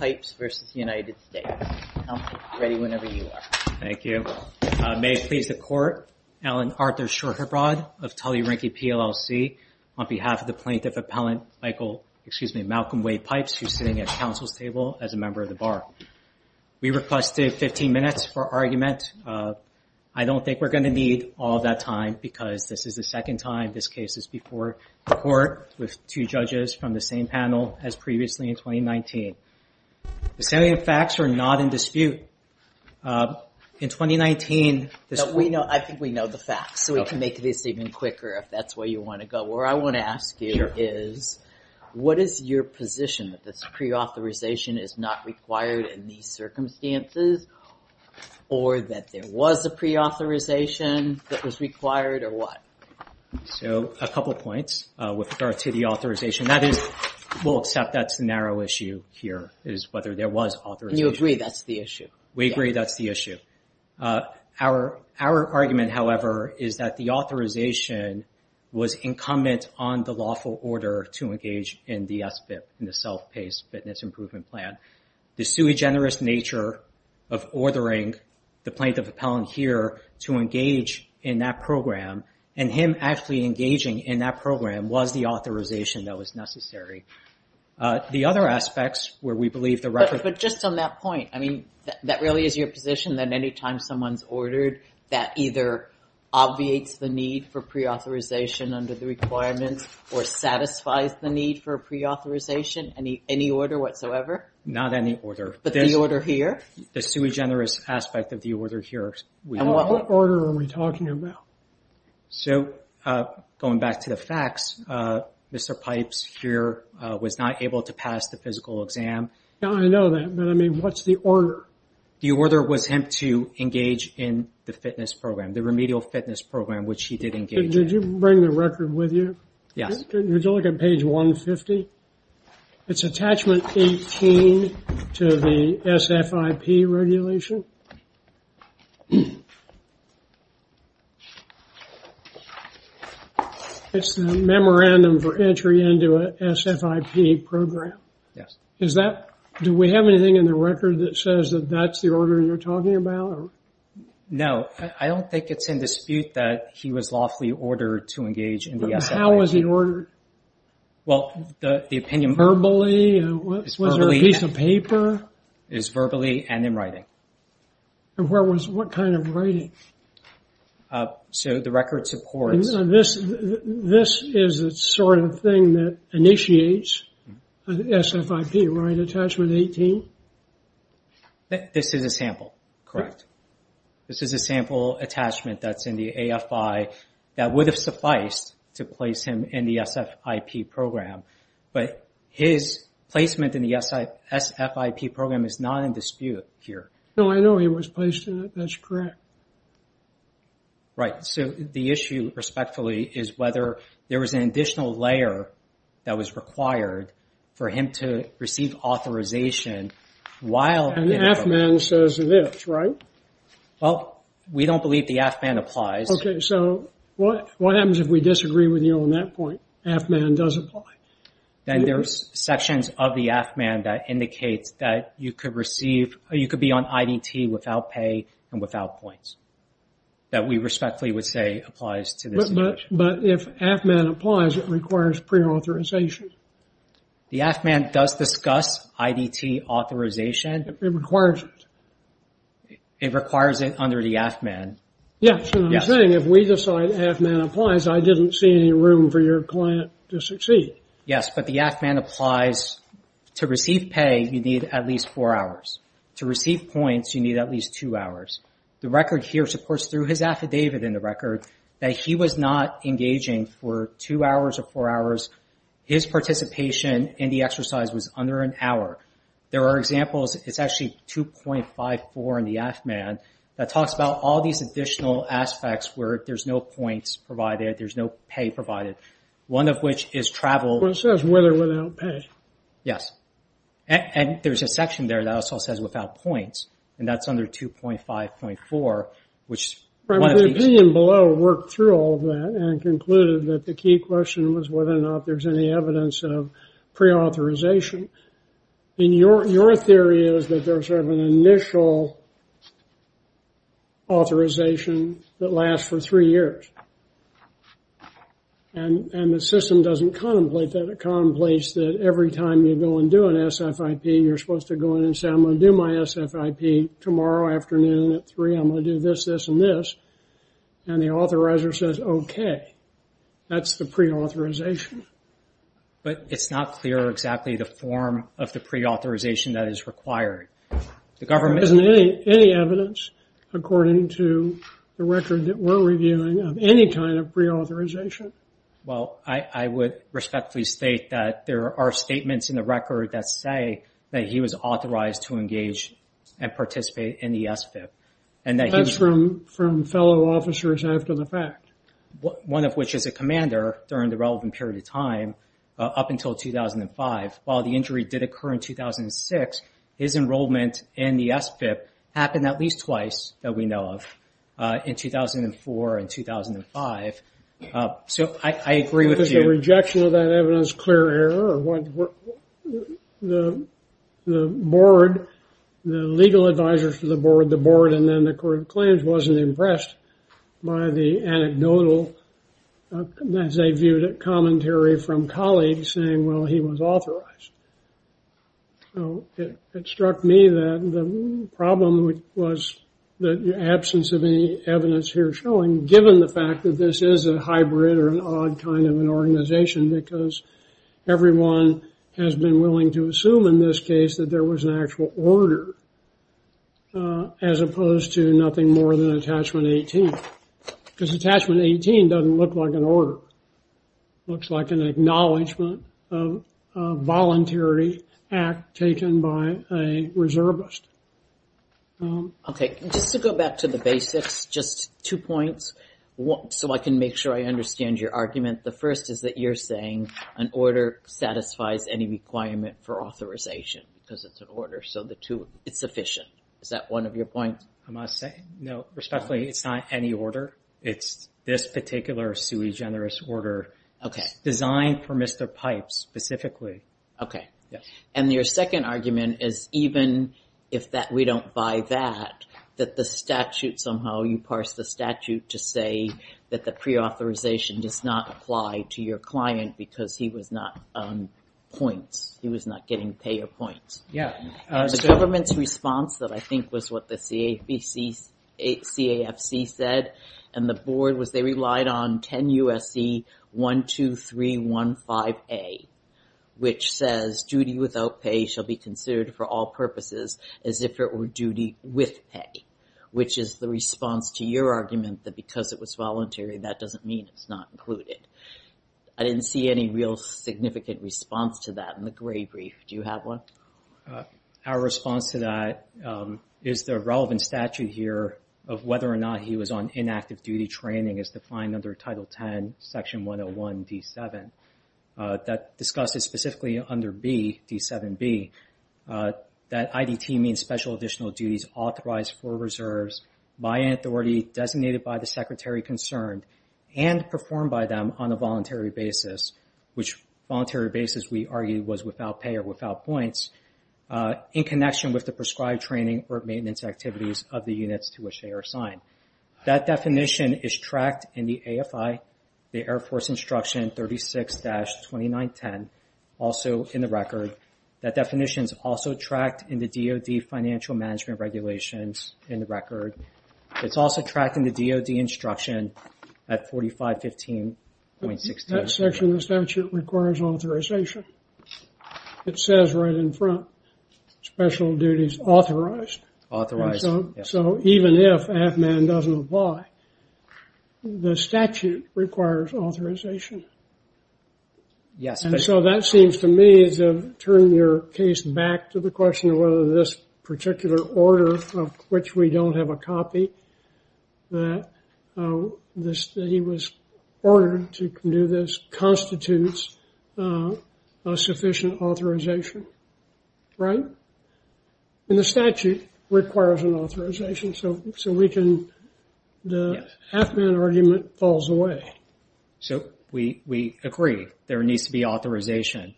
I'm ready whenever you are. Thank you. May it please the court, Alan Arthur Shorherbrod of Tully Rinkey PLLC on behalf of the plaintiff appellant Michael, excuse me, Malcolm Wade Pipes who's sitting at council's table as a member of the bar. We requested 15 minutes for argument. I don't think we're going to need all that time because this is the second time this case is before the court with two judges from the same panel as previously in 2019. The facts are not in dispute. In 2019, we know, I think we know the facts so we can make this even quicker if that's where you want to go. Where I want to ask you is what is your position that this pre-authorization is not required in these circumstances or that there was a pre-authorization that was required or what? So a couple points with regard to the authorization. That is, we'll accept that's a narrow issue here is whether there was authorization. And you agree that's the issue? We agree that's the issue. Our argument, however, is that the authorization was incumbent on the lawful order to engage in the SBIP, in the self-paced fitness improvement plan. The sui generis nature of ordering the plaintiff appellant here to engage in that program and him actually engaging in that program was the authorization that was necessary. The other aspects where we believe the record... But just on that point, I mean, that really is your position that anytime someone's ordered, that either obviates the need for pre-authorization under the requirements or satisfies the need for pre-authorization? Any order whatsoever? Not any order. But the order here? The sui generis aspect of the order here. What order are we talking about? So going back to the facts, Mr. Pipes here was not able to pass the physical exam. I know that, but I mean, what's the order? The order was him to engage in the fitness program, the remedial fitness program, which he did engage in. Did you bring the record with you? Yes. Would you look at page 150? It's attachment 18 to the SFIP regulation. It's the memorandum for entry into a SFIP program. Yes. Do we have anything in the record that says that that's the order you're talking about? No, I don't think it's in dispute that he was lawfully ordered to engage in the SFIP. How was he ordered? Well, the opinion... Verbally? Was there a piece of paper? It was verbally and in writing. And what kind of writing? So the record supports... This is the sort of thing that initiates an SFIP, right? Attachment 18? This is a sample, correct. This is a sample attachment that's in the AFI that would have sufficed to place him in the SFIP program, but his placement in the SFIP program is not in dispute here. No, I know he was placed in it. That's correct. Right. So the issue, respectfully, is whether there was an additional layer that was required for him to receive authorization while... And the AFMAN says it is, right? Well, we don't believe the AFMAN applies. Okay. So what happens if we disagree with you on that point? AFMAN does apply. Then there's sections of the AFMAN that indicates that you could receive, you could be on IDT without pay and without points. That we respectfully would say applies to this issue. But if AFMAN applies, it requires pre-authorization. The AFMAN does discuss IDT authorization. It requires it. It requires it under the AFMAN. Yes, and I'm saying if we decide AFMAN applies, I didn't see any room for your client to succeed. Yes, but the AFMAN applies. To receive pay, you need at least four hours. To receive points, you need at least two hours. The record here supports through his affidavit in the record that he was not engaging for two hours or four hours. His participation in the exercise was under an hour. There are examples, it's actually 2.54 in the AFMAN that talks about all these additional aspects where there's no points provided. There's no pay provided. One of which is travel. Well, it says whether without pay. Yes, and there's a section there that also says without points. And that's under 2.5.4, which is one of these. The opinion below worked through all of that and concluded that the key question was whether or not there's any evidence of pre-authorization. And your theory is that there's sort of an initial authorization that lasts for three years. And the system doesn't contemplate that. It contemplates that every time you go and do an SFIP, you're supposed to go in and say, I'm going to do my SFIP tomorrow afternoon at three. I'm going to do this, this, and this. And the authorizer says, OK, that's the pre-authorization. But it's not clear exactly the form of the pre-authorization that is required. There isn't any evidence, according to the record that we're reviewing, of any kind of pre-authorization. Well, I would respectfully state that there are statements in the record that say that he was authorized to engage and participate in the SFIP. And that's from fellow officers after the fact. One of which is a commander during the relevant period of time, up until 2005. While the injury did occur in 2006, his enrollment in the SFIP happened at least twice that we know of, in 2004 and 2005. So I agree with you. Is the rejection of that evidence clear error? What the board, the legal advisors to the board, the board and then the court of claims, wasn't impressed by the anecdotal, as they viewed it, commentary from colleagues saying, well, he was authorized. So it struck me that the problem was the absence of any evidence here showing, given the fact that this is a hybrid or an odd kind of an organization, because everyone has been willing to assume in this case that there was an actual order. As opposed to nothing more than Attachment 18. Because Attachment 18 doesn't look like an order. Looks like an acknowledgment of a voluntary act taken by a reservist. Okay. Just to go back to the basics, just two points. So I can make sure I understand your argument. The first is that you're saying an order satisfies any requirement for authorization, because it's an order. So the two, it's sufficient. Is that one of your points? I must say, no, respectfully, it's not any order. It's this particular sui generis order. Okay. Designed for Mr. Pipe specifically. Okay. And your second argument is even if that we don't buy that, that the statute somehow, you parse the statute to say that the pre-authorization does not apply to your client, because he was not on points. He was not getting pay or points. Yeah. The government's response that I think was what the CAFC said, and the board was they relied on 10 USC 12315A, which says duty without pay shall be considered for all purposes as if it were duty with pay. Which is the response to your argument that because it was voluntary, that doesn't mean it's not included. I didn't see any real significant response to that in the gray brief. Do you have one? Our response to that is the relevant statute here of whether or not he was on inactive duty training is defined under Title 10, Section 101 D7. That discusses specifically under B, D7B, that IDT means special additional duties authorized for reserves by an authority designated by the secretary concerned and performed by them on a voluntary basis, which voluntary basis we argued was without pay or without points, in connection with the prescribed training or maintenance activities of the units to which they are assigned. That definition is tracked in the AFI, the Air Force Instruction 36-2910, also in the record. That definition is also tracked in the DOD financial management regulations in the record. It's also tracked in the DOD instruction at 4515.16. That section of the statute requires authorization. It says right in front, special duties authorized. Authorized, yes. So even if AFMAN doesn't apply, the statute requires authorization. Yes. So that seems to me to turn your case back to the question of whether this particular order of which we don't have a copy, that he was ordered to do this, constitutes a sufficient authorization, right? And the statute requires an authorization. So we can, the AFMAN argument falls away. So we agree. There needs to be authorization.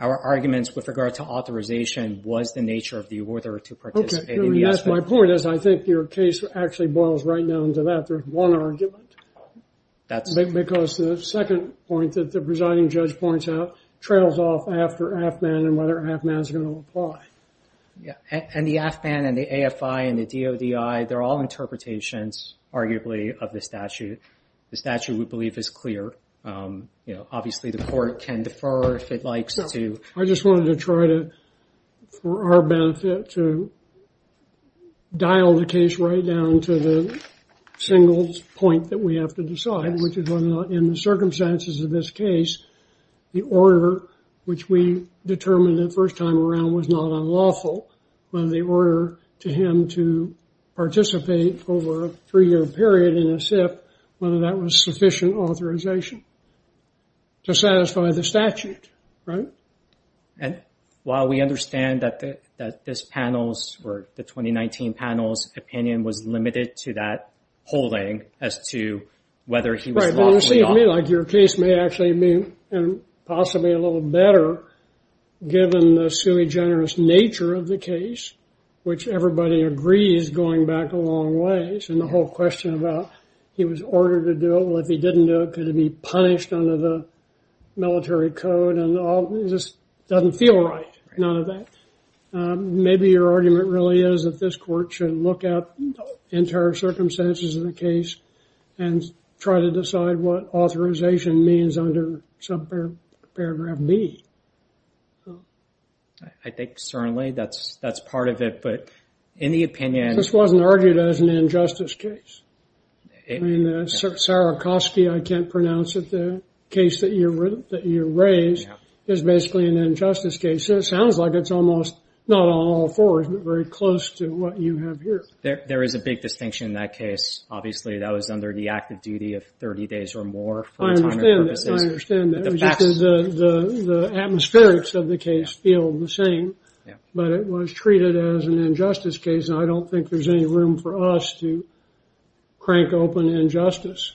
Our arguments with regard to authorization was the nature of the order to participate. My point is, I think your case actually boils right down to that. There's one argument. Because the second point that the presiding judge points out trails off after AFMAN and whether AFMAN is going to apply. Yeah. And the AFMAN and the AFI and the DODI, they're all interpretations, arguably, of the statute. The statute we believe is clear. You know, obviously the court can defer if it likes to. I just wanted to try to, for our benefit, to dial the case right down to the single point that we have to decide, which is whether or not in the circumstances of this case, the order which we determined the first time around was not unlawful, whether the order to him to participate over a three-year period in a SIF, whether that was sufficient authorization to satisfy the statute, right? And while we understand that this panel's, or the 2019 panel's opinion was limited to that polling as to whether he was lawfully... Right, but you see me like your case may actually be, and possibly a little better, given the sui generis nature of the case, which everybody agrees going back a long ways, and the whole question about he was ordered to do it. Well, if he didn't do it, could he be punished under the military code? And it just doesn't feel right, none of that. Maybe your argument really is that this court should look at entire circumstances of the case and try to decide what authorization means under subparagraph B. I think, certainly, that's part of it. But in the opinion... This wasn't argued as an injustice case. I mean, Sarikoski, I can't pronounce it, the case that you raised, is basically an injustice case. So it sounds like it's almost, not on all fours, but very close to what you have here. There is a big distinction in that case. Obviously, that was under the active duty of 30 days or more for the time and purposes. I understand that, I understand that. But the facts... The atmospherics of the case feel the same. But it was treated as an injustice case, and I don't think there's any room for us to crank open injustice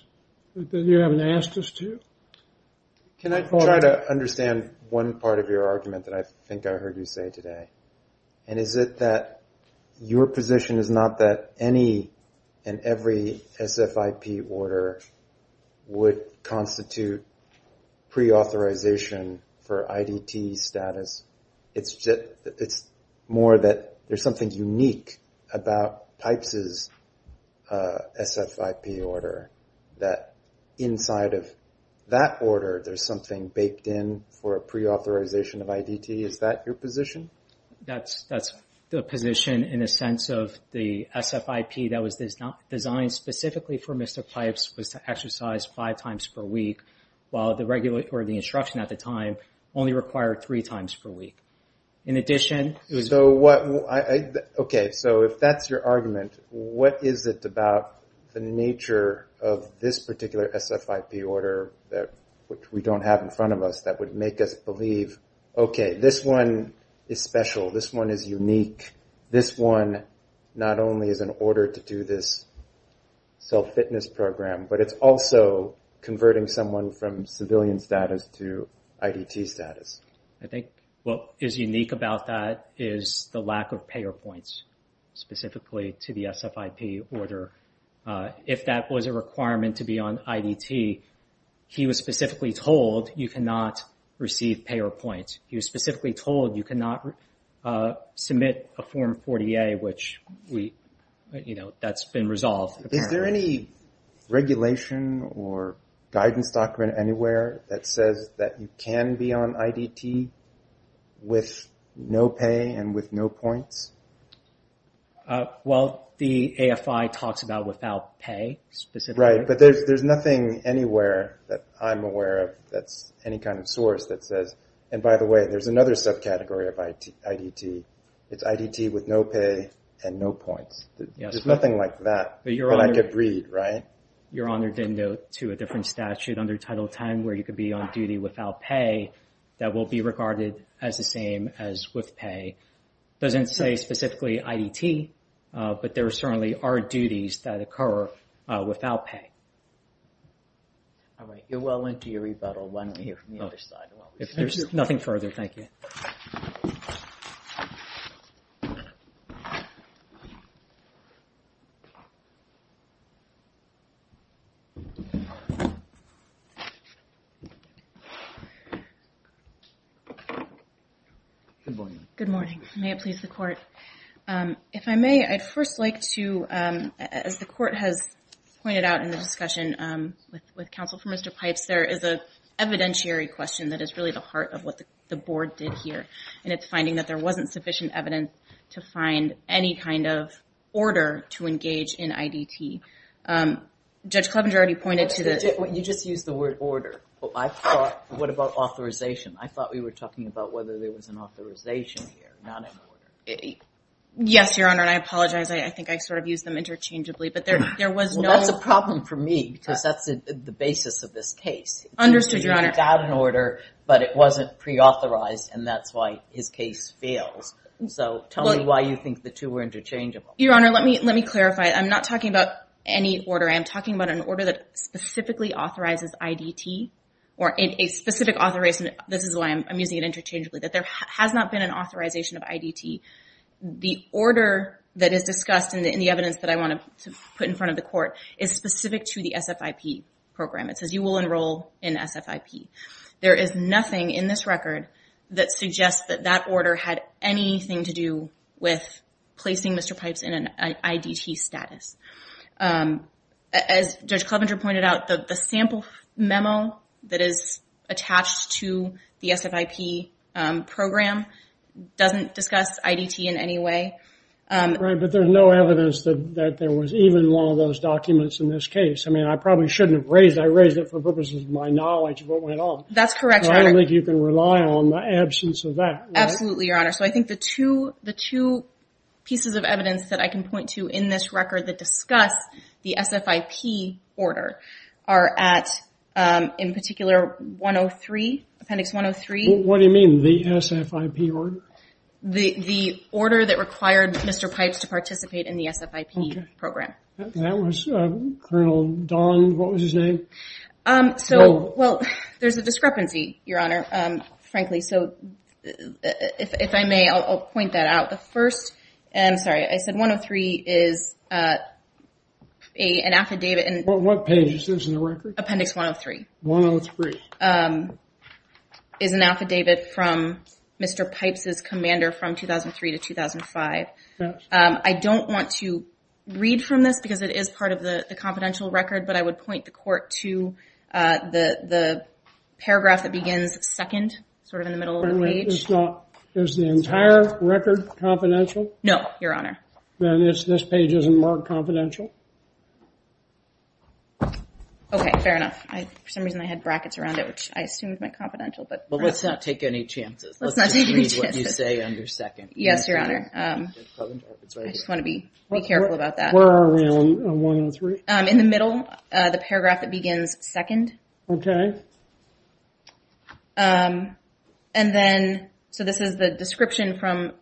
that you haven't asked us to. Can I try to understand one part of your argument that I think I heard you say today? And is it that your position is not that any and every SFIP order would constitute pre-authorization for IDT status? It's more that there's something unique about PIPES's SFIP order, that inside of that order, there's something baked in for a pre-authorization of IDT. Is that your position? That's the position in a sense of the SFIP that was designed specifically for Mr. PIPES was to exercise five times per week, while the instruction at the time only required three times per week. In addition... So what... Okay, so if that's your argument, what is it about the nature of this particular SFIP order that we don't have in front of us that would make us believe, okay, this one is special, this one is unique, this one not only is an order to do this self-fitness program, but it's also converting someone from civilian status to IDT status. I think what is unique about that is the lack of payer points, specifically to the SFIP order. If that was a requirement to be on IDT, he was specifically told you cannot receive payer points. He was specifically told you cannot submit a Form 40A, which that's been resolved. Is there any regulation or guidance document anywhere that says that you can be on IDT with no pay and with no points? Well, the AFI talks about without pay, specifically. Right, but there's nothing anywhere that I'm aware of that's any kind of source that says, and by the way, there's another subcategory of IDT. It's IDT with no pay and no points. There's nothing like that that I could read, right? Your Honor did note to a different statute under Title 10, where you could be on duty without pay, that will be regarded as the same as with pay. It doesn't say specifically IDT, but there certainly are duties that occur without pay. All right, you're well into your rebuttal. Let me hear from the other side. If there's nothing further, thank you. Good morning. Good morning. May it please the court. If I may, I'd first like to, as the court has pointed out in the discussion with counsel for Mr. Pipes, there is a evidentiary question that is really the heart of what the board did here, and it's finding that there wasn't sufficient evidence to find any kind of order to engage in IDT. Judge Clevenger already pointed to this. You just used the word order. What about authorization? I thought we were talking about whether there was an authorization here, not an order. Yes, Your Honor, and I apologize. I think I sort of used them interchangeably, but there was no... Well, that's a problem for me because that's the basis of this case. Understood, Your Honor. You got an order, but it wasn't preauthorized, and that's why his case fails. So tell me why you think the two were interchangeable. Your Honor, let me clarify. I'm not talking about any order. I am talking about an order that specifically authorizes IDT, or a specific authorization. This is why I'm using it interchangeably, that there has not been an authorization of IDT. The order that is discussed in the evidence that I want to put in front of the court is specific to the SFIP program. It says you will enroll in SFIP. There is nothing in this record that suggests that that order had anything to do with placing Mr. Pipes in an IDT status. As Judge Clevenger pointed out, the sample memo that is attached to the SFIP program doesn't discuss IDT in any way. Right, but there's no evidence that there was even one of those documents in this case. I mean, I probably shouldn't have raised it. I raised it for purposes of my knowledge of what went on. That's correct, Your Honor. I don't think you can rely on the absence of that. Absolutely, Your Honor. So I think the two pieces of evidence that I can point to in this record that discuss the SFIP order are at, in particular, 103. Appendix 103. What do you mean? The SFIP order? The order that required Mr. Pipes to participate in the SFIP program. That was Colonel Don. What was his name? Well, there's a discrepancy, Your Honor. Frankly, so if I may, I'll point that out. The first, I'm sorry, I said 103 is an affidavit. What page is this in the record? Appendix 103. 103. Is an affidavit from Mr. Pipes' commander from 2003 to 2005. I don't want to read from this because it is part of the confidential record, but I would point the court to the paragraph that begins second, sort of in the middle of the page. Is the entire record confidential? No, Your Honor. This page isn't marked confidential? Okay, fair enough. For some reason, I had brackets around it, which I assumed meant confidential. Well, let's not take any chances. Let's not take any chances. Let's just read what you say under second. Yes, Your Honor. I just want to be careful about that. Where are we on 103? In the middle, the paragraph that begins second. Okay. And then, so this is the description from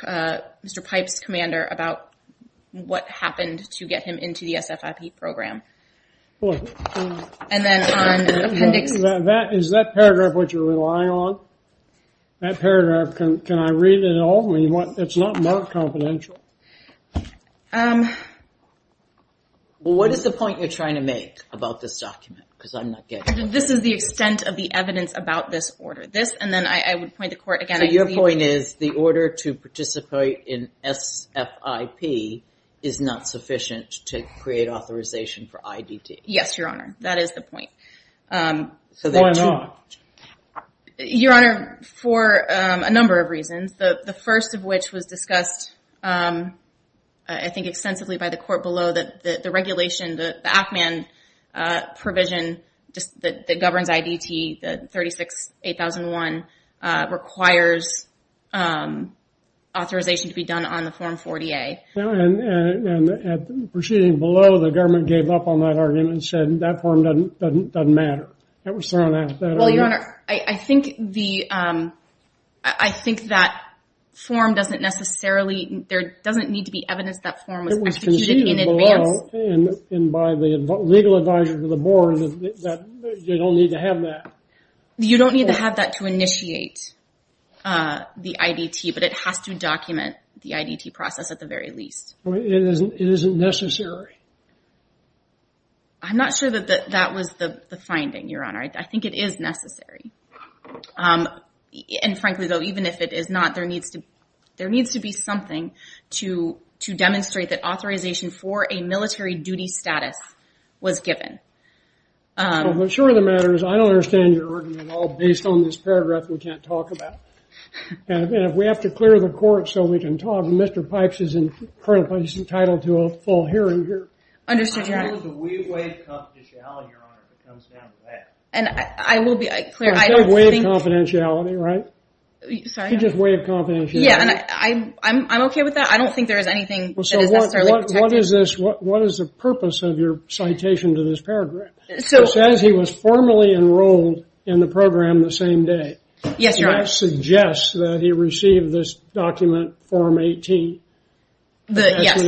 Mr. Pipes' commander about what happened to get him into the SFIP program. And then on appendix... Is that paragraph what you're relying on? That paragraph, can I read it all? It's not marked confidential? Well, what is the point you're trying to make about this document? Because I'm not getting... This is the extent of the evidence about this order. This, and then I would point the court again. So your point is the order to participate in SFIP is not sufficient to create authorization for IDT? Yes, Your Honor. That is the point. So why not? Your Honor, for a number of reasons. The first of which was discussed, I think, extensively by the court below that the regulation, the ACMAN provision that governs IDT, the 36-8001 requires authorization to be done on the form 40-A. And proceeding below, the government gave up on that argument and said that form doesn't matter. That was thrown out. Well, Your Honor, I think that form doesn't necessarily... There doesn't need to be evidence that form was executed in advance. And by the legal advisor to the board, you don't need to have that. You don't need to have that to initiate the IDT, but it has to document the IDT process at the very least. It isn't necessary? I'm not sure that that was the finding, Your Honor. I think it is necessary. And frankly, though, even if it is not, there needs to be something to demonstrate that authorization for a military duty status was given. I'm sure the matter is, I don't understand your argument at all based on this paragraph we can't talk about. And if we have to clear the court so we can talk, Mr. Pipes is currently entitled to a full hearing here. Understood, Your Honor. How do we waive confidentiality, Your Honor, if it comes down to that? And I will be clear. I don't think... You don't waive confidentiality, right? Sorry? You just waive confidentiality. Yeah, and I'm okay with that. I don't think there is anything that is necessarily protected. What is this? What is the purpose of your citation to this paragraph? It says he was formally enrolled in the program the same day. Yes, Your Honor. And that suggests that he received this document, Form 18. Yes,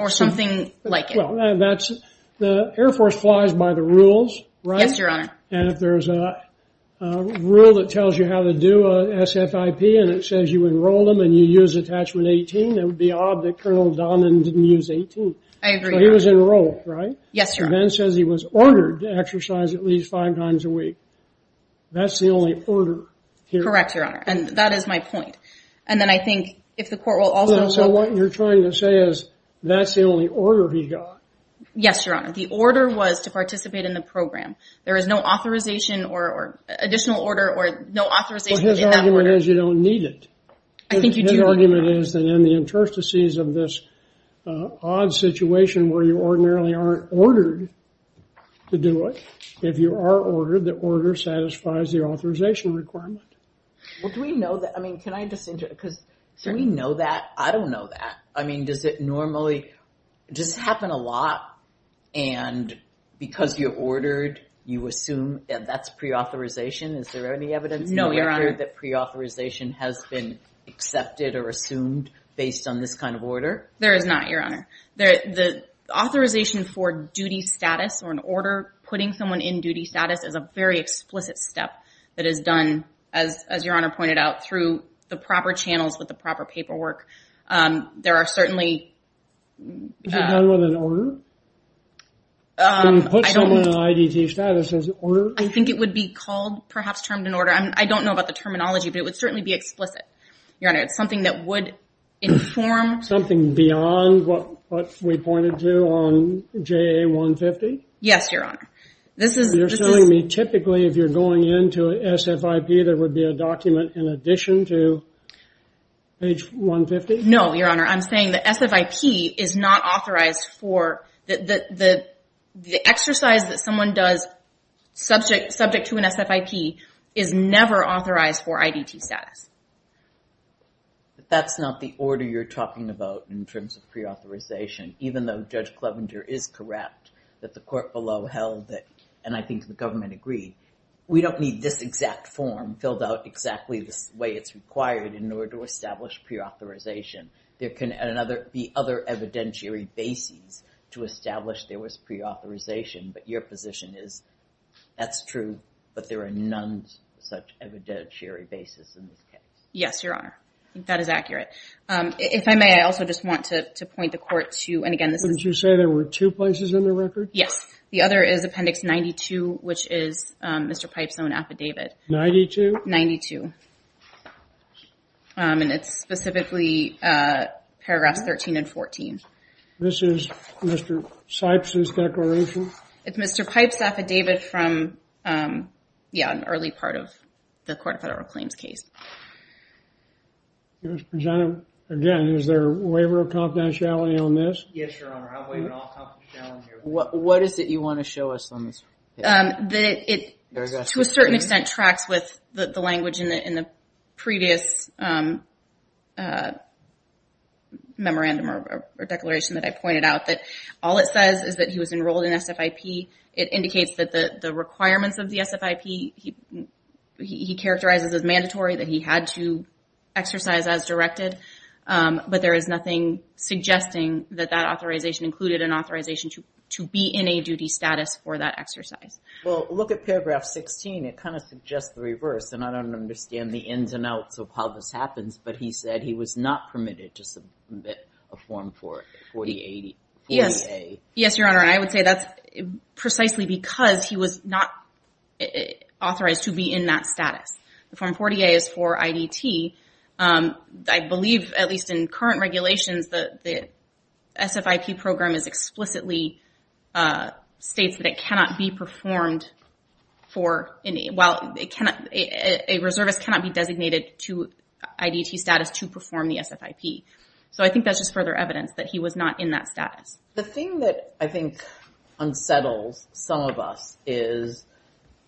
or something like it. The Air Force flies by the rules, right? Yes, Your Honor. And if there's a rule that tells you how to do a SFIP and it says you enroll them and you use Attachment 18, it would be odd that Colonel Donnan didn't use 18. I agree, Your Honor. So he was enrolled, right? Yes, Your Honor. And then it says he was ordered to exercise at least five times a week. That's the only order here. Correct, Your Honor. And that is my point. And then I think if the court will also... So what you're trying to say is that's the only order he got? Yes, Your Honor. The order was to participate in the program. There is no authorization or additional order or no authorization... But his argument is you don't need it. I think you do, Your Honor. His argument is that in the interstices of this odd situation where you ordinarily aren't ordered to do it, if you are ordered, the order satisfies the authorization requirement. Well, do we know that? I mean, can I just... Because do we know that? I don't know that. I mean, does it normally... Does it happen a lot? And because you're ordered, you assume that's pre-authorization? Is there any evidence... No, Your Honor. ...that pre-authorization has been accepted or assumed based on this kind of order? There is not, Your Honor. The authorization for duty status or an order, putting someone in duty status is a very explicit step that is done, as Your Honor pointed out, through the proper channels with the proper paperwork. There are certainly... Is it done with an order? Can you put someone in IDT status as an order? I think it would be called, perhaps, termed an order. I don't know about the terminology, but it would certainly be explicit, Your Honor. It's something that would inform... Something beyond what we pointed to on JA-150? Yes, Your Honor. This is... You're telling me, typically, if you're going into an SFIP, there would be a document in addition to page 150? No, Your Honor. I'm saying the SFIP is not authorized for... The exercise that someone does subject to an SFIP is never authorized for IDT status. But that's not the order you're talking about in terms of preauthorization, even though Judge Clevenger is correct that the court below held that, and I think the government agreed, we don't need this exact form filled out exactly the way it's required in order to establish preauthorization. There can be other evidentiary bases to establish there was preauthorization, but your position is that's true, but there are none such evidentiary basis in this case? Yes, Your Honor. That is accurate. If I may, I also just want to point the court to... And again, this is... Didn't you say there were two places in the record? Yes. The other is Appendix 92, which is Mr. Pipes' own affidavit. 92? 92. And it's specifically paragraphs 13 and 14. This is Mr. Sipes' declaration? It's Mr. Pipes' affidavit from, yeah, an early part of the Court of Federal Claims case. Again, is there a waiver of confidentiality on this? Yes, Your Honor. What is it you want to show us on this? It, to a certain extent, tracks with the language in the previous memorandum or declaration that I pointed out, that all it says is that he was enrolled in SFIP. It indicates that the requirements of the SFIP, he characterizes as mandatory, that he had to exercise as directed, but there is nothing suggesting that that authorization included an authorization to be in a duty status for that exercise. Well, look at paragraph 16. It kind of suggests the reverse, and I don't understand the ins and outs of how this happens, but he said he was not permitted to submit a form for it, 40A. Yes, Your Honor. I would say that's precisely because he was not authorized to be in that status. The form 40A is for IDT. I believe, at least in current regulations, the SFIP program explicitly states that it cannot be performed for, well, a reservist cannot be designated to IDT status to perform the SFIP. So I think that's just further evidence that he was not in that status. The thing that I think unsettles some of us is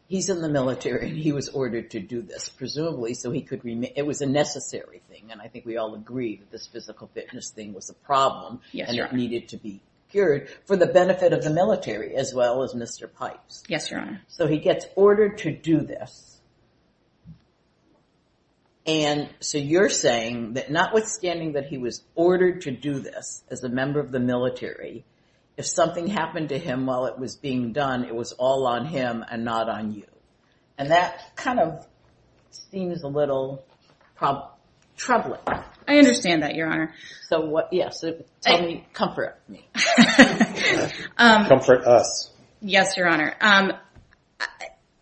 he's in the military, and he was ordered to do this, presumably so he could remain. It was a necessary thing, and I think we all agree that this physical fitness thing was a problem. Yes, Your Honor. And it needed to be cured for the benefit of the military, as well as Mr. Pipes. Yes, Your Honor. So he gets ordered to do this, and so you're saying that notwithstanding that he was ordered to do this as a member of the military, if something happened to him while it was being done, it was all on him and not on you. And that kind of seems a little troubling. I understand that, Your Honor. So what, yes, tell me, comfort me. Comfort us. Yes, Your Honor.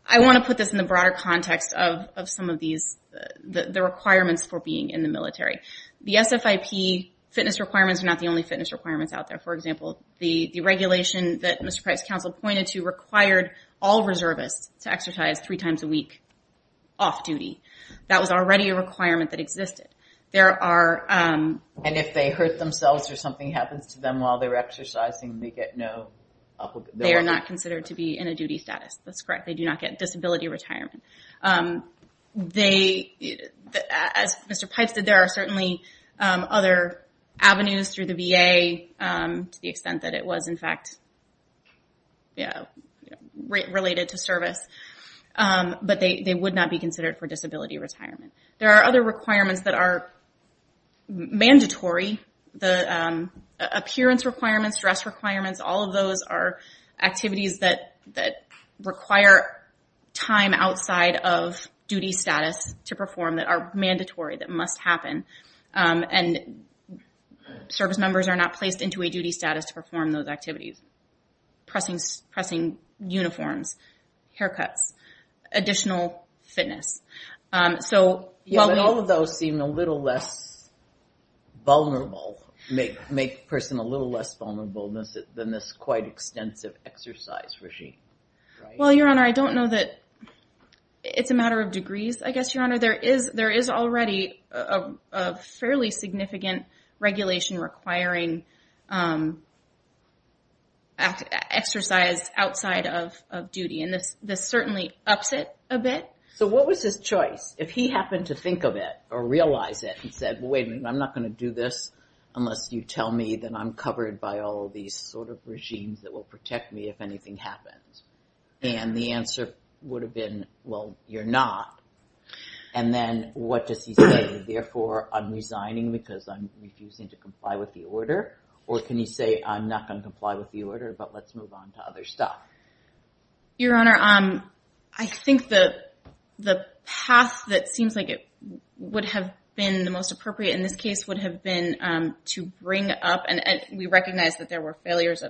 I want to put this in the broader context of some of these, the requirements for being in the military. The SFIP fitness requirements are not the only fitness requirements out there. For example, the regulation that Mr. Pipes' counsel pointed to required all reservists to exercise three times a week off duty. That was already a requirement that existed. There are... And if they hurt themselves or something happens to them while they're exercising, they get no... They are not considered to be in a duty status. That's correct. They do not get disability retirement. They, as Mr. Pipes did, there are certainly other avenues through the VA to the extent that it was, in fact, related to service. But they would not be considered for disability retirement. There are other requirements that are mandatory. The appearance requirements, dress requirements, all of those are activities that require time outside of duty status to perform that are mandatory, that must happen. And service members are not placed into a duty status to perform those activities. Pressing uniforms, haircuts, additional fitness. So while we... Yeah, but all of those seem a little less vulnerable, make the person a little less vulnerable than this quite extensive exercise regime. Well, Your Honor, I don't know that... It's a matter of degrees, I guess, Your Honor. There is already a fairly significant regulation requiring exercise outside of duty. And this certainly ups it a bit. So what was his choice? If he happened to think of it or realize it and said, wait, I'm not going to do this unless you tell me that I'm covered by all these sort of regimes that will protect me if anything happens. And the answer would have been, well, you're not. And then what does he say? Therefore, I'm resigning because I'm refusing to comply with the order. Or can he say, I'm not going to comply with the order, but let's move on to other stuff? Your Honor, I think the path that seems like it would have been the most appropriate in this case would have been to bring up... And we recognize that there were failures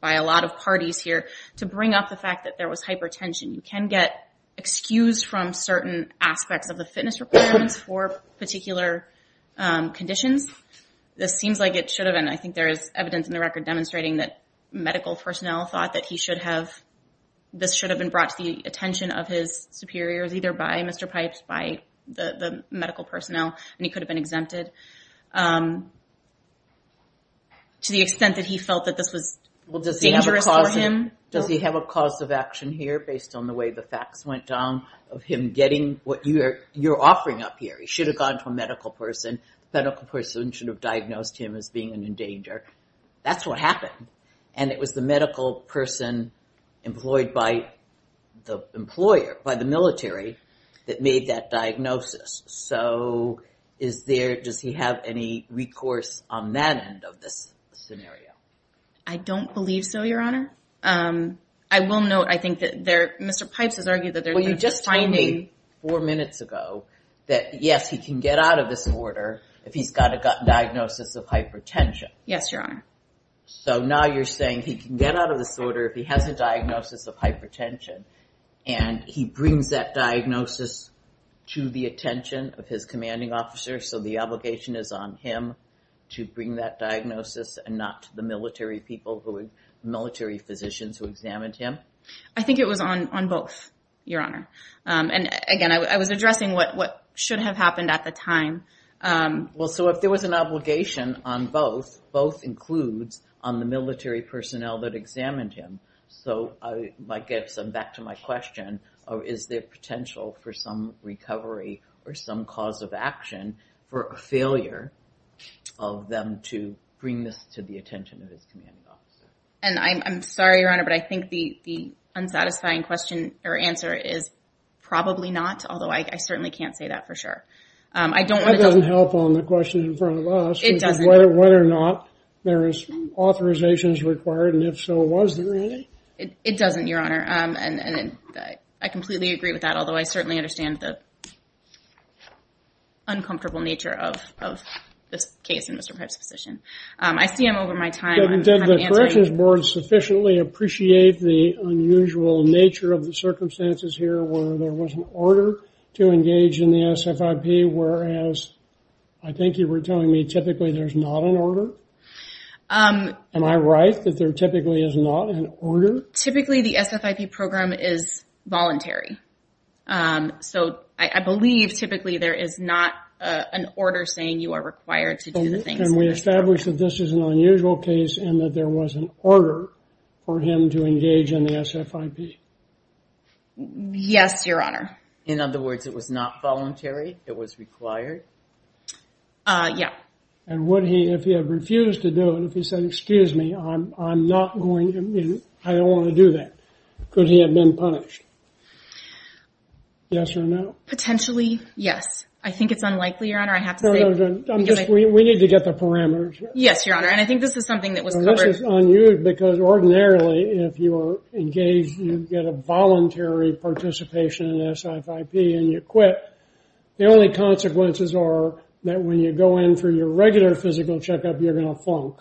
by a lot of parties here to bring up the fact that there was hypertension. You can get excused from certain aspects of the fitness requirements for particular conditions. This seems like it should have been. I think there is evidence in the record demonstrating that medical personnel thought that he should have... This should have been brought to the attention of his superiors, either by Mr. Pipes, by the medical personnel, and he could have been exempted to the extent that he felt that this was dangerous for him. Does he have a cause of action here based on the way the facts went down of him getting what you're offering up here? He should have gone to a medical person. The medical person should have diagnosed him as being an endangered. That's what happened. And it was the medical person employed by the employer, by the military, that made that diagnosis. So is there... Does he have any recourse on that end of this scenario? I don't believe so, Your Honor. I will note, Mr. Pipes has argued that... Well, you just told me four minutes ago that, yes, he can get out of this order if he's got a diagnosis of hypertension. Yes, Your Honor. So now you're saying he can get out of this order if he has a diagnosis of hypertension and he brings that diagnosis to the attention of his commanding officer. So the obligation is on him to bring that diagnosis and not to the military people, military physicians who examined him. I think it was on both, Your Honor. And again, I was addressing what should have happened at the time. Well, so if there was an obligation on both, both includes on the military personnel that examined him. So I guess I'm back to my question. Is there potential for some recovery or some cause of action for a failure of them to bring this to the attention of his commanding officer? And I'm sorry, Your Honor, but I think the unsatisfying question or answer is probably not, although I certainly can't say that for sure. I don't want to... That doesn't help on the question in front of us. It doesn't. Whether or not there is authorizations required, and if so, was there any? It doesn't, Your Honor. And I completely agree with that, although I certainly understand the uncomfortable nature of this case in Mr. Pipe's position. I see him over my time. But the corrections board sufficiently appreciate the unusual nature of the circumstances here where there was an order to engage in the SFIP, whereas I think you were telling me typically there's not an order. Am I right that there typically is not an order? Typically, the SFIP program is voluntary. So I believe typically there is not an order saying you are required to do the things. And we established that this is an unusual case and that there was an order for him to engage in the SFIP. Yes, Your Honor. In other words, it was not voluntary? It was required? Yeah. And would he, if he had refused to do it, if he said, excuse me, I'm not going... I don't want to do that. Could he have been punished? Yes or no? Potentially, yes. I think it's unlikely, Your Honor. I have to say... We need to get the parameters. Yes, Your Honor. And I think this is something that was covered... This is unusual because ordinarily, if you are engaged, you get a voluntary participation in SFIP and you quit, the only consequences are that when you go in for your regular physical checkup, you're going to flunk.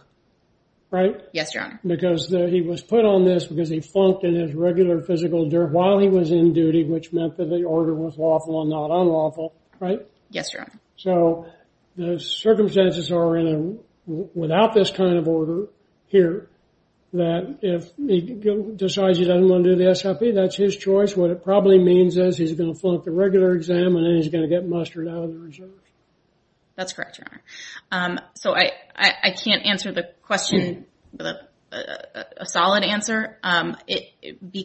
Right? Yes, Your Honor. Because he was put on this because he flunked in his regular physical during while he was in duty, which meant that the order was lawful and not unlawful. Right? Yes, Your Honor. So the circumstances are without this kind of order here that if he decides he doesn't want to do the SFIP, that's his choice. What it probably means is he's going to flunk the regular exam and then he's going to get mustered out of the reserve. That's correct, Your Honor. So I can't answer the question with a solid answer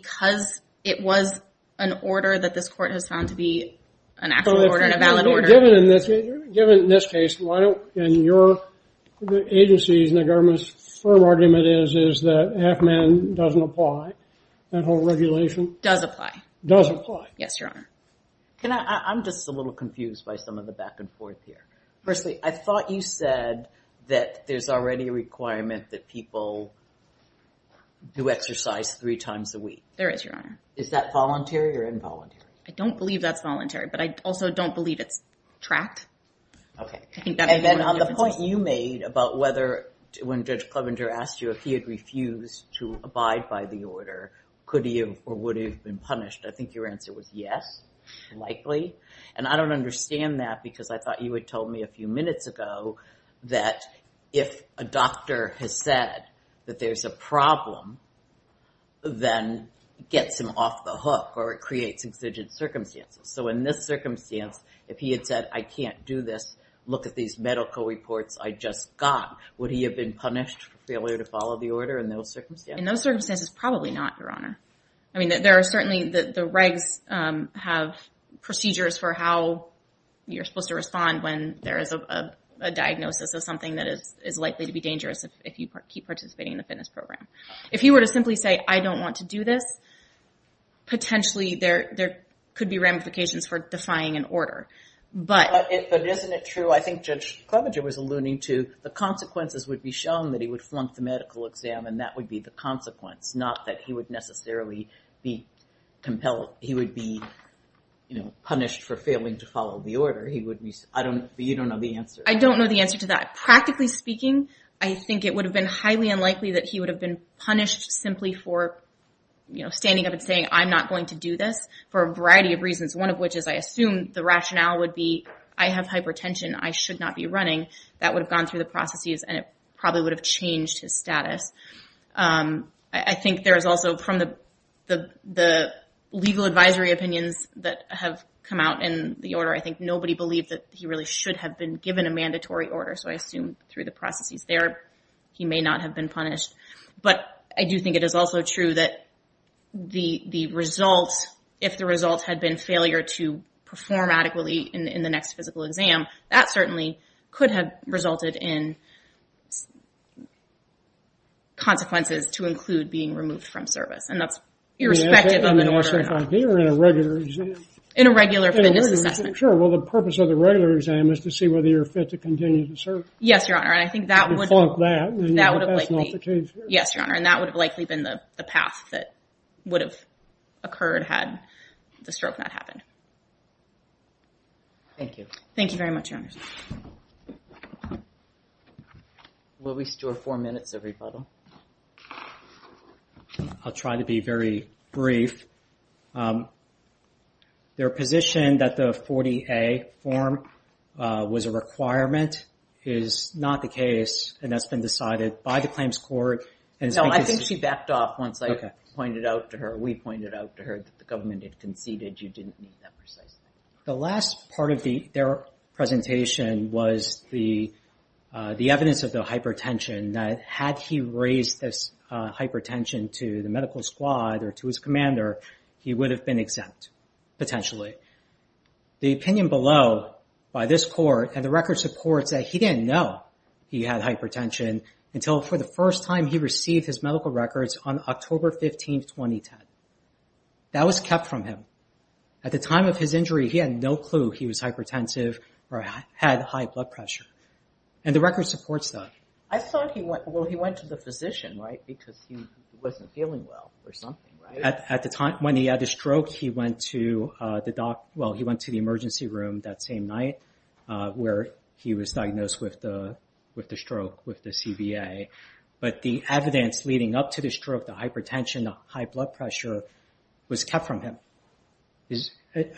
because it was an order that this court has found to be an actual order and a valid order. Given in this case, in your agencies and the government's firm argument is that HACMAN doesn't apply that whole regulation. Does apply. Does apply. Yes, Your Honor. Can I, I'm just a little confused by some of the back and forth here. Firstly, I thought you said that there's already a requirement that people do exercise three times a week. There is, Your Honor. Is that voluntary or involuntary? I don't believe that's voluntary, but I also don't believe it's tracked. OK. And then on the point you made about whether when Judge Clevenger asked you if he had refused to abide by the order, could he or would he have been punished? I think your answer was yes, likely. And I don't understand that because I thought you had told me a few minutes ago that if a doctor has said that there's a problem, then gets him off the hook or it creates exigent circumstances. So in this circumstance, if he had said, I can't do this, look at these medical reports I just got, would he have been punished for failure to follow the order in those circumstances? In those circumstances, probably not, Your Honor. I mean, there are certainly the regs have procedures for how you're supposed to respond when there is a diagnosis of something that is likely to be dangerous if you keep participating in the fitness program. If he were to simply say, I don't want to do this, potentially there could be ramifications for defying an order. But isn't it true, I think Judge Klobuchar was alluding to the consequences would be shown that he would flunk the medical exam and that would be the consequence, not that he would necessarily be compelled, he would be punished for failing to follow the order. He would be, I don't, you don't know the answer. I don't know the answer to that. Practically speaking, I think it would have been highly unlikely that he would have been punished simply for standing up and saying, I'm not going to do this for a variety of reasons. One of which is I assume the rationale would be, I have hypertension, I should not be running. That would have gone through the processes and it probably would have changed his status. I think there is also from the legal advisory opinions that have come out in the order, I think nobody believed that he really should have been given a mandatory order. So I assume through the processes there, he may not have been punished. But I do think it is also true that the results, if the results had been failure to perform adequately in the next physical exam, that certainly could have resulted in consequences to include being removed from service. And that's irrespective of an order at all. In a regular exam? In a regular fitness assessment. Sure. Well, the purpose of the regular exam is to see whether you're fit to continue to serve. Yes, Your Honor. And I think that would have likely been the path that would have occurred had the stroke not happened. Thank you. Thank you very much, Your Honor. Will we store four minutes of rebuttal? I'll try to be very brief. Their position that the 40A form was a requirement is not the case and that's been decided by the Claims Court. No, I think she backed off once I pointed out to her, we pointed out to her that the government had conceded you didn't need that precisely. The last part of their presentation was the evidence of the hypertension that had he raised this hypertension to the medical squad or to his commander, he would have been exempt, potentially. The opinion below by this court and the record supports that he didn't know he had hypertension until for the first time he received his medical records on October 15, 2010. That was kept from him. At the time of his injury, he had no clue he was hypertensive or had high blood pressure and the record supports that. I thought he went, well, he went to the physician, right? Because he wasn't feeling well or something, right? At the time when he had a stroke, he went to the doc, well, he went to the emergency room that same night where he was diagnosed with the stroke, with the CBA. But the evidence leading up to the stroke, the hypertension, the high blood pressure was kept from him.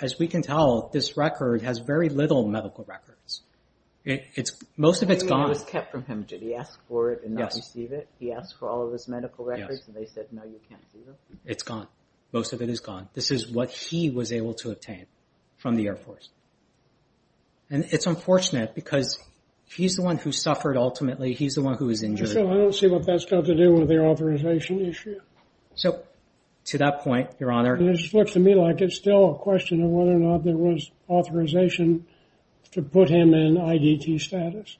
As we can tell, this record has very little medical records. Most of it's gone. It was kept from him. Did he ask for it and not receive it? He asked for all of his medical records and they said, no, you can't see them. It's gone. Most of it is gone. This is what he was able to obtain from the Air Force. And it's unfortunate because he's the one who suffered ultimately. He's the one who was injured. I don't see what that's got to do with the authorization issue. So to that point, Your Honor. It just looks to me like it's still a question of whether or not there was authorization to put him in IDT status.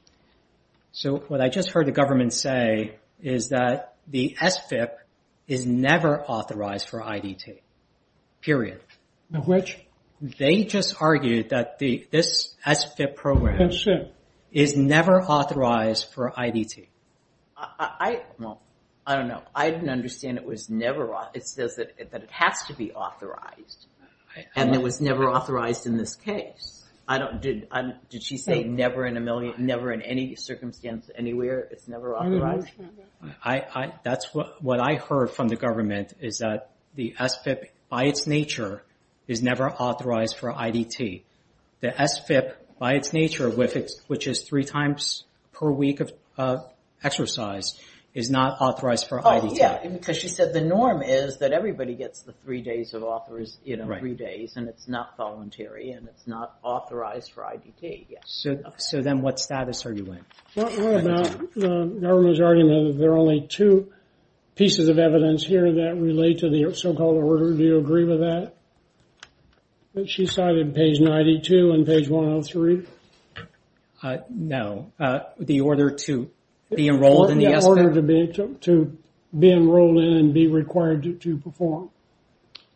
So what I just heard the government say is that the SFIP is never authorized for IDT, period. Which? They just argued that this SFIP program is never authorized for IDT. I don't know. I didn't understand it was never. It says that it has to be authorized. And it was never authorized in this case. I don't, did she say never in a million, never in any circumstance anywhere? It's never authorized? That's what I heard from the government is that the SFIP by its nature is never authorized for IDT. The SFIP by its nature, which is three times per week of exercise is not authorized for IDT. Oh yeah, because she said the norm is that everybody gets the three days of authorize, you know, three days and it's not voluntary and it's not authorized for IDT yet. So then what status are you in? What about the government's argument that there are only two pieces of evidence here that relate to the so-called order? Do you agree with that? That she cited page 92 and page 103? No, the order to be enrolled in the SFIP? The order to be enrolled in and be required to perform.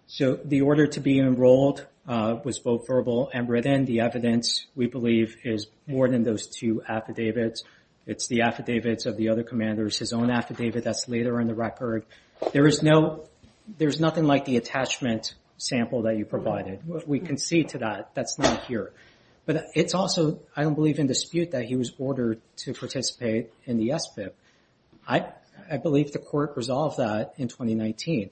So the order to be enrolled was both verbal and written, the evidence we believe is more than those two affidavits. It's the affidavits of the other commanders, his own affidavit that's later in the record. There is no, there's nothing like the attachment sample that you provided. We can see to that, that's not here. But it's also, I don't believe in dispute that he was ordered to participate in the SFIP. I believe the court resolved that in 2019.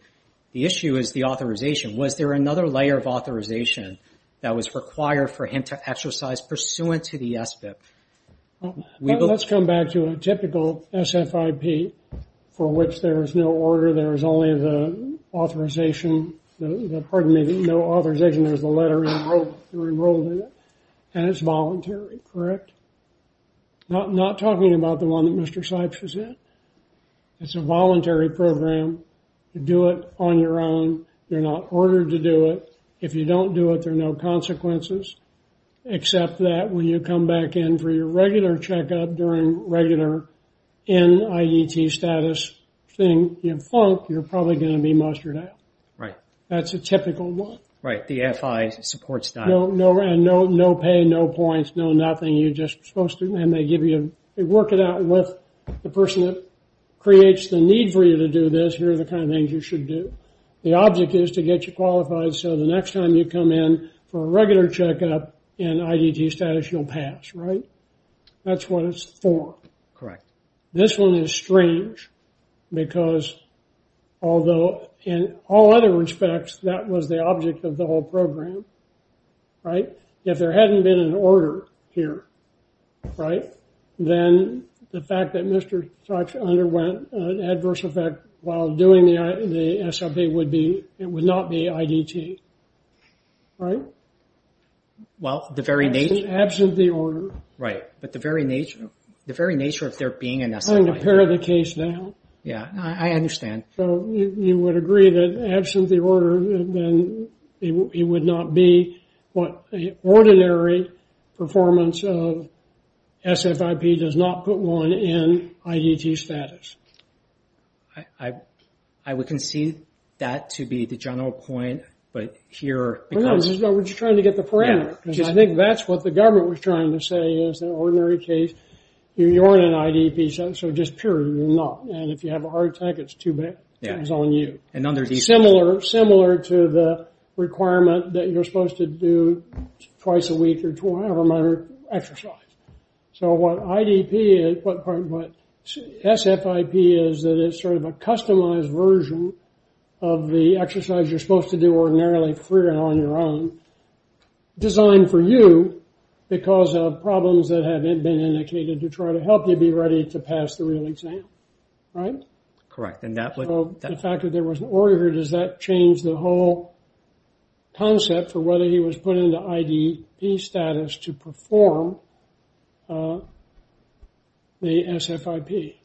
The issue is the authorization. Was there another layer of authorization that was required for him to exercise pursuant to the SFIP? Let's come back to a typical SFIP for which there is no order, there is only the authorization, pardon me, no authorization, there's a letter, you're enrolled in it. And it's voluntary, correct? Not talking about the one that Mr. Seibch is in. It's a voluntary program. You do it on your own. You're not ordered to do it. If you don't do it, there are no consequences. Except that when you come back in for your regular checkup during regular NIET status thing, you're probably going to be mustered out. Right. That's a typical one. Right, the FI supports that. No pay, no points, no nothing. You're just supposed to, and they give you, they work it out with the person that creates the need for you to do this. Here are the kind of things you should do. The object is to get you qualified so the next time you come in for a regular checkup in IDT status, you'll pass, right? That's what it's for. Correct. This one is strange because, although in all other respects, that was the object of the whole program, right? If there hadn't been an order here, right? Then the fact that Mr. Such underwent an adverse effect while doing the SFA would be, it would not be IDT, right? Well, the very nature... Absent the order. Right, but the very nature, the very nature of there being an SFA. I'm going to pare the case down. Yeah, I understand. So you would agree that absent the order, then he would not be what the ordinary performance of SFIP does not put one in IDT status. I would concede that to be the general point, but here... No, we're just trying to get the parameter. I think that's what the government was trying to say is an ordinary case, you aren't an IDP, so just period, you're not. And if you have a heart attack, it's too bad, it's on you. And under these... Similar to the requirement that you're supposed to do twice a week or however many exercises. So what IDP is, what SFIP is, that it's sort of a customized version of the exercise you're supposed to do ordinarily free and on your own, designed for you, because of problems that have been indicated to try to help you be ready to pass the real exam, right? Correct, and that would... The fact that there was an order, does that change the whole concept for whether he was put into IDP status to perform the SFIP?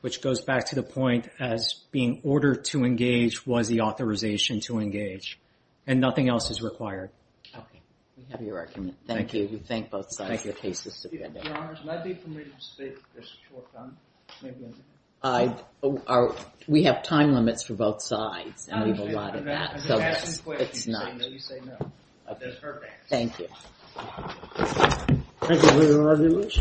Which goes back to the point as being ordered to engage was the authorization to engage, and nothing else is required. Okay, we have your argument. Thank you. We thank both sides of the case. We have time limits for both sides. I believe a lot of that, so it's not... Thank you. Thank you for your argument.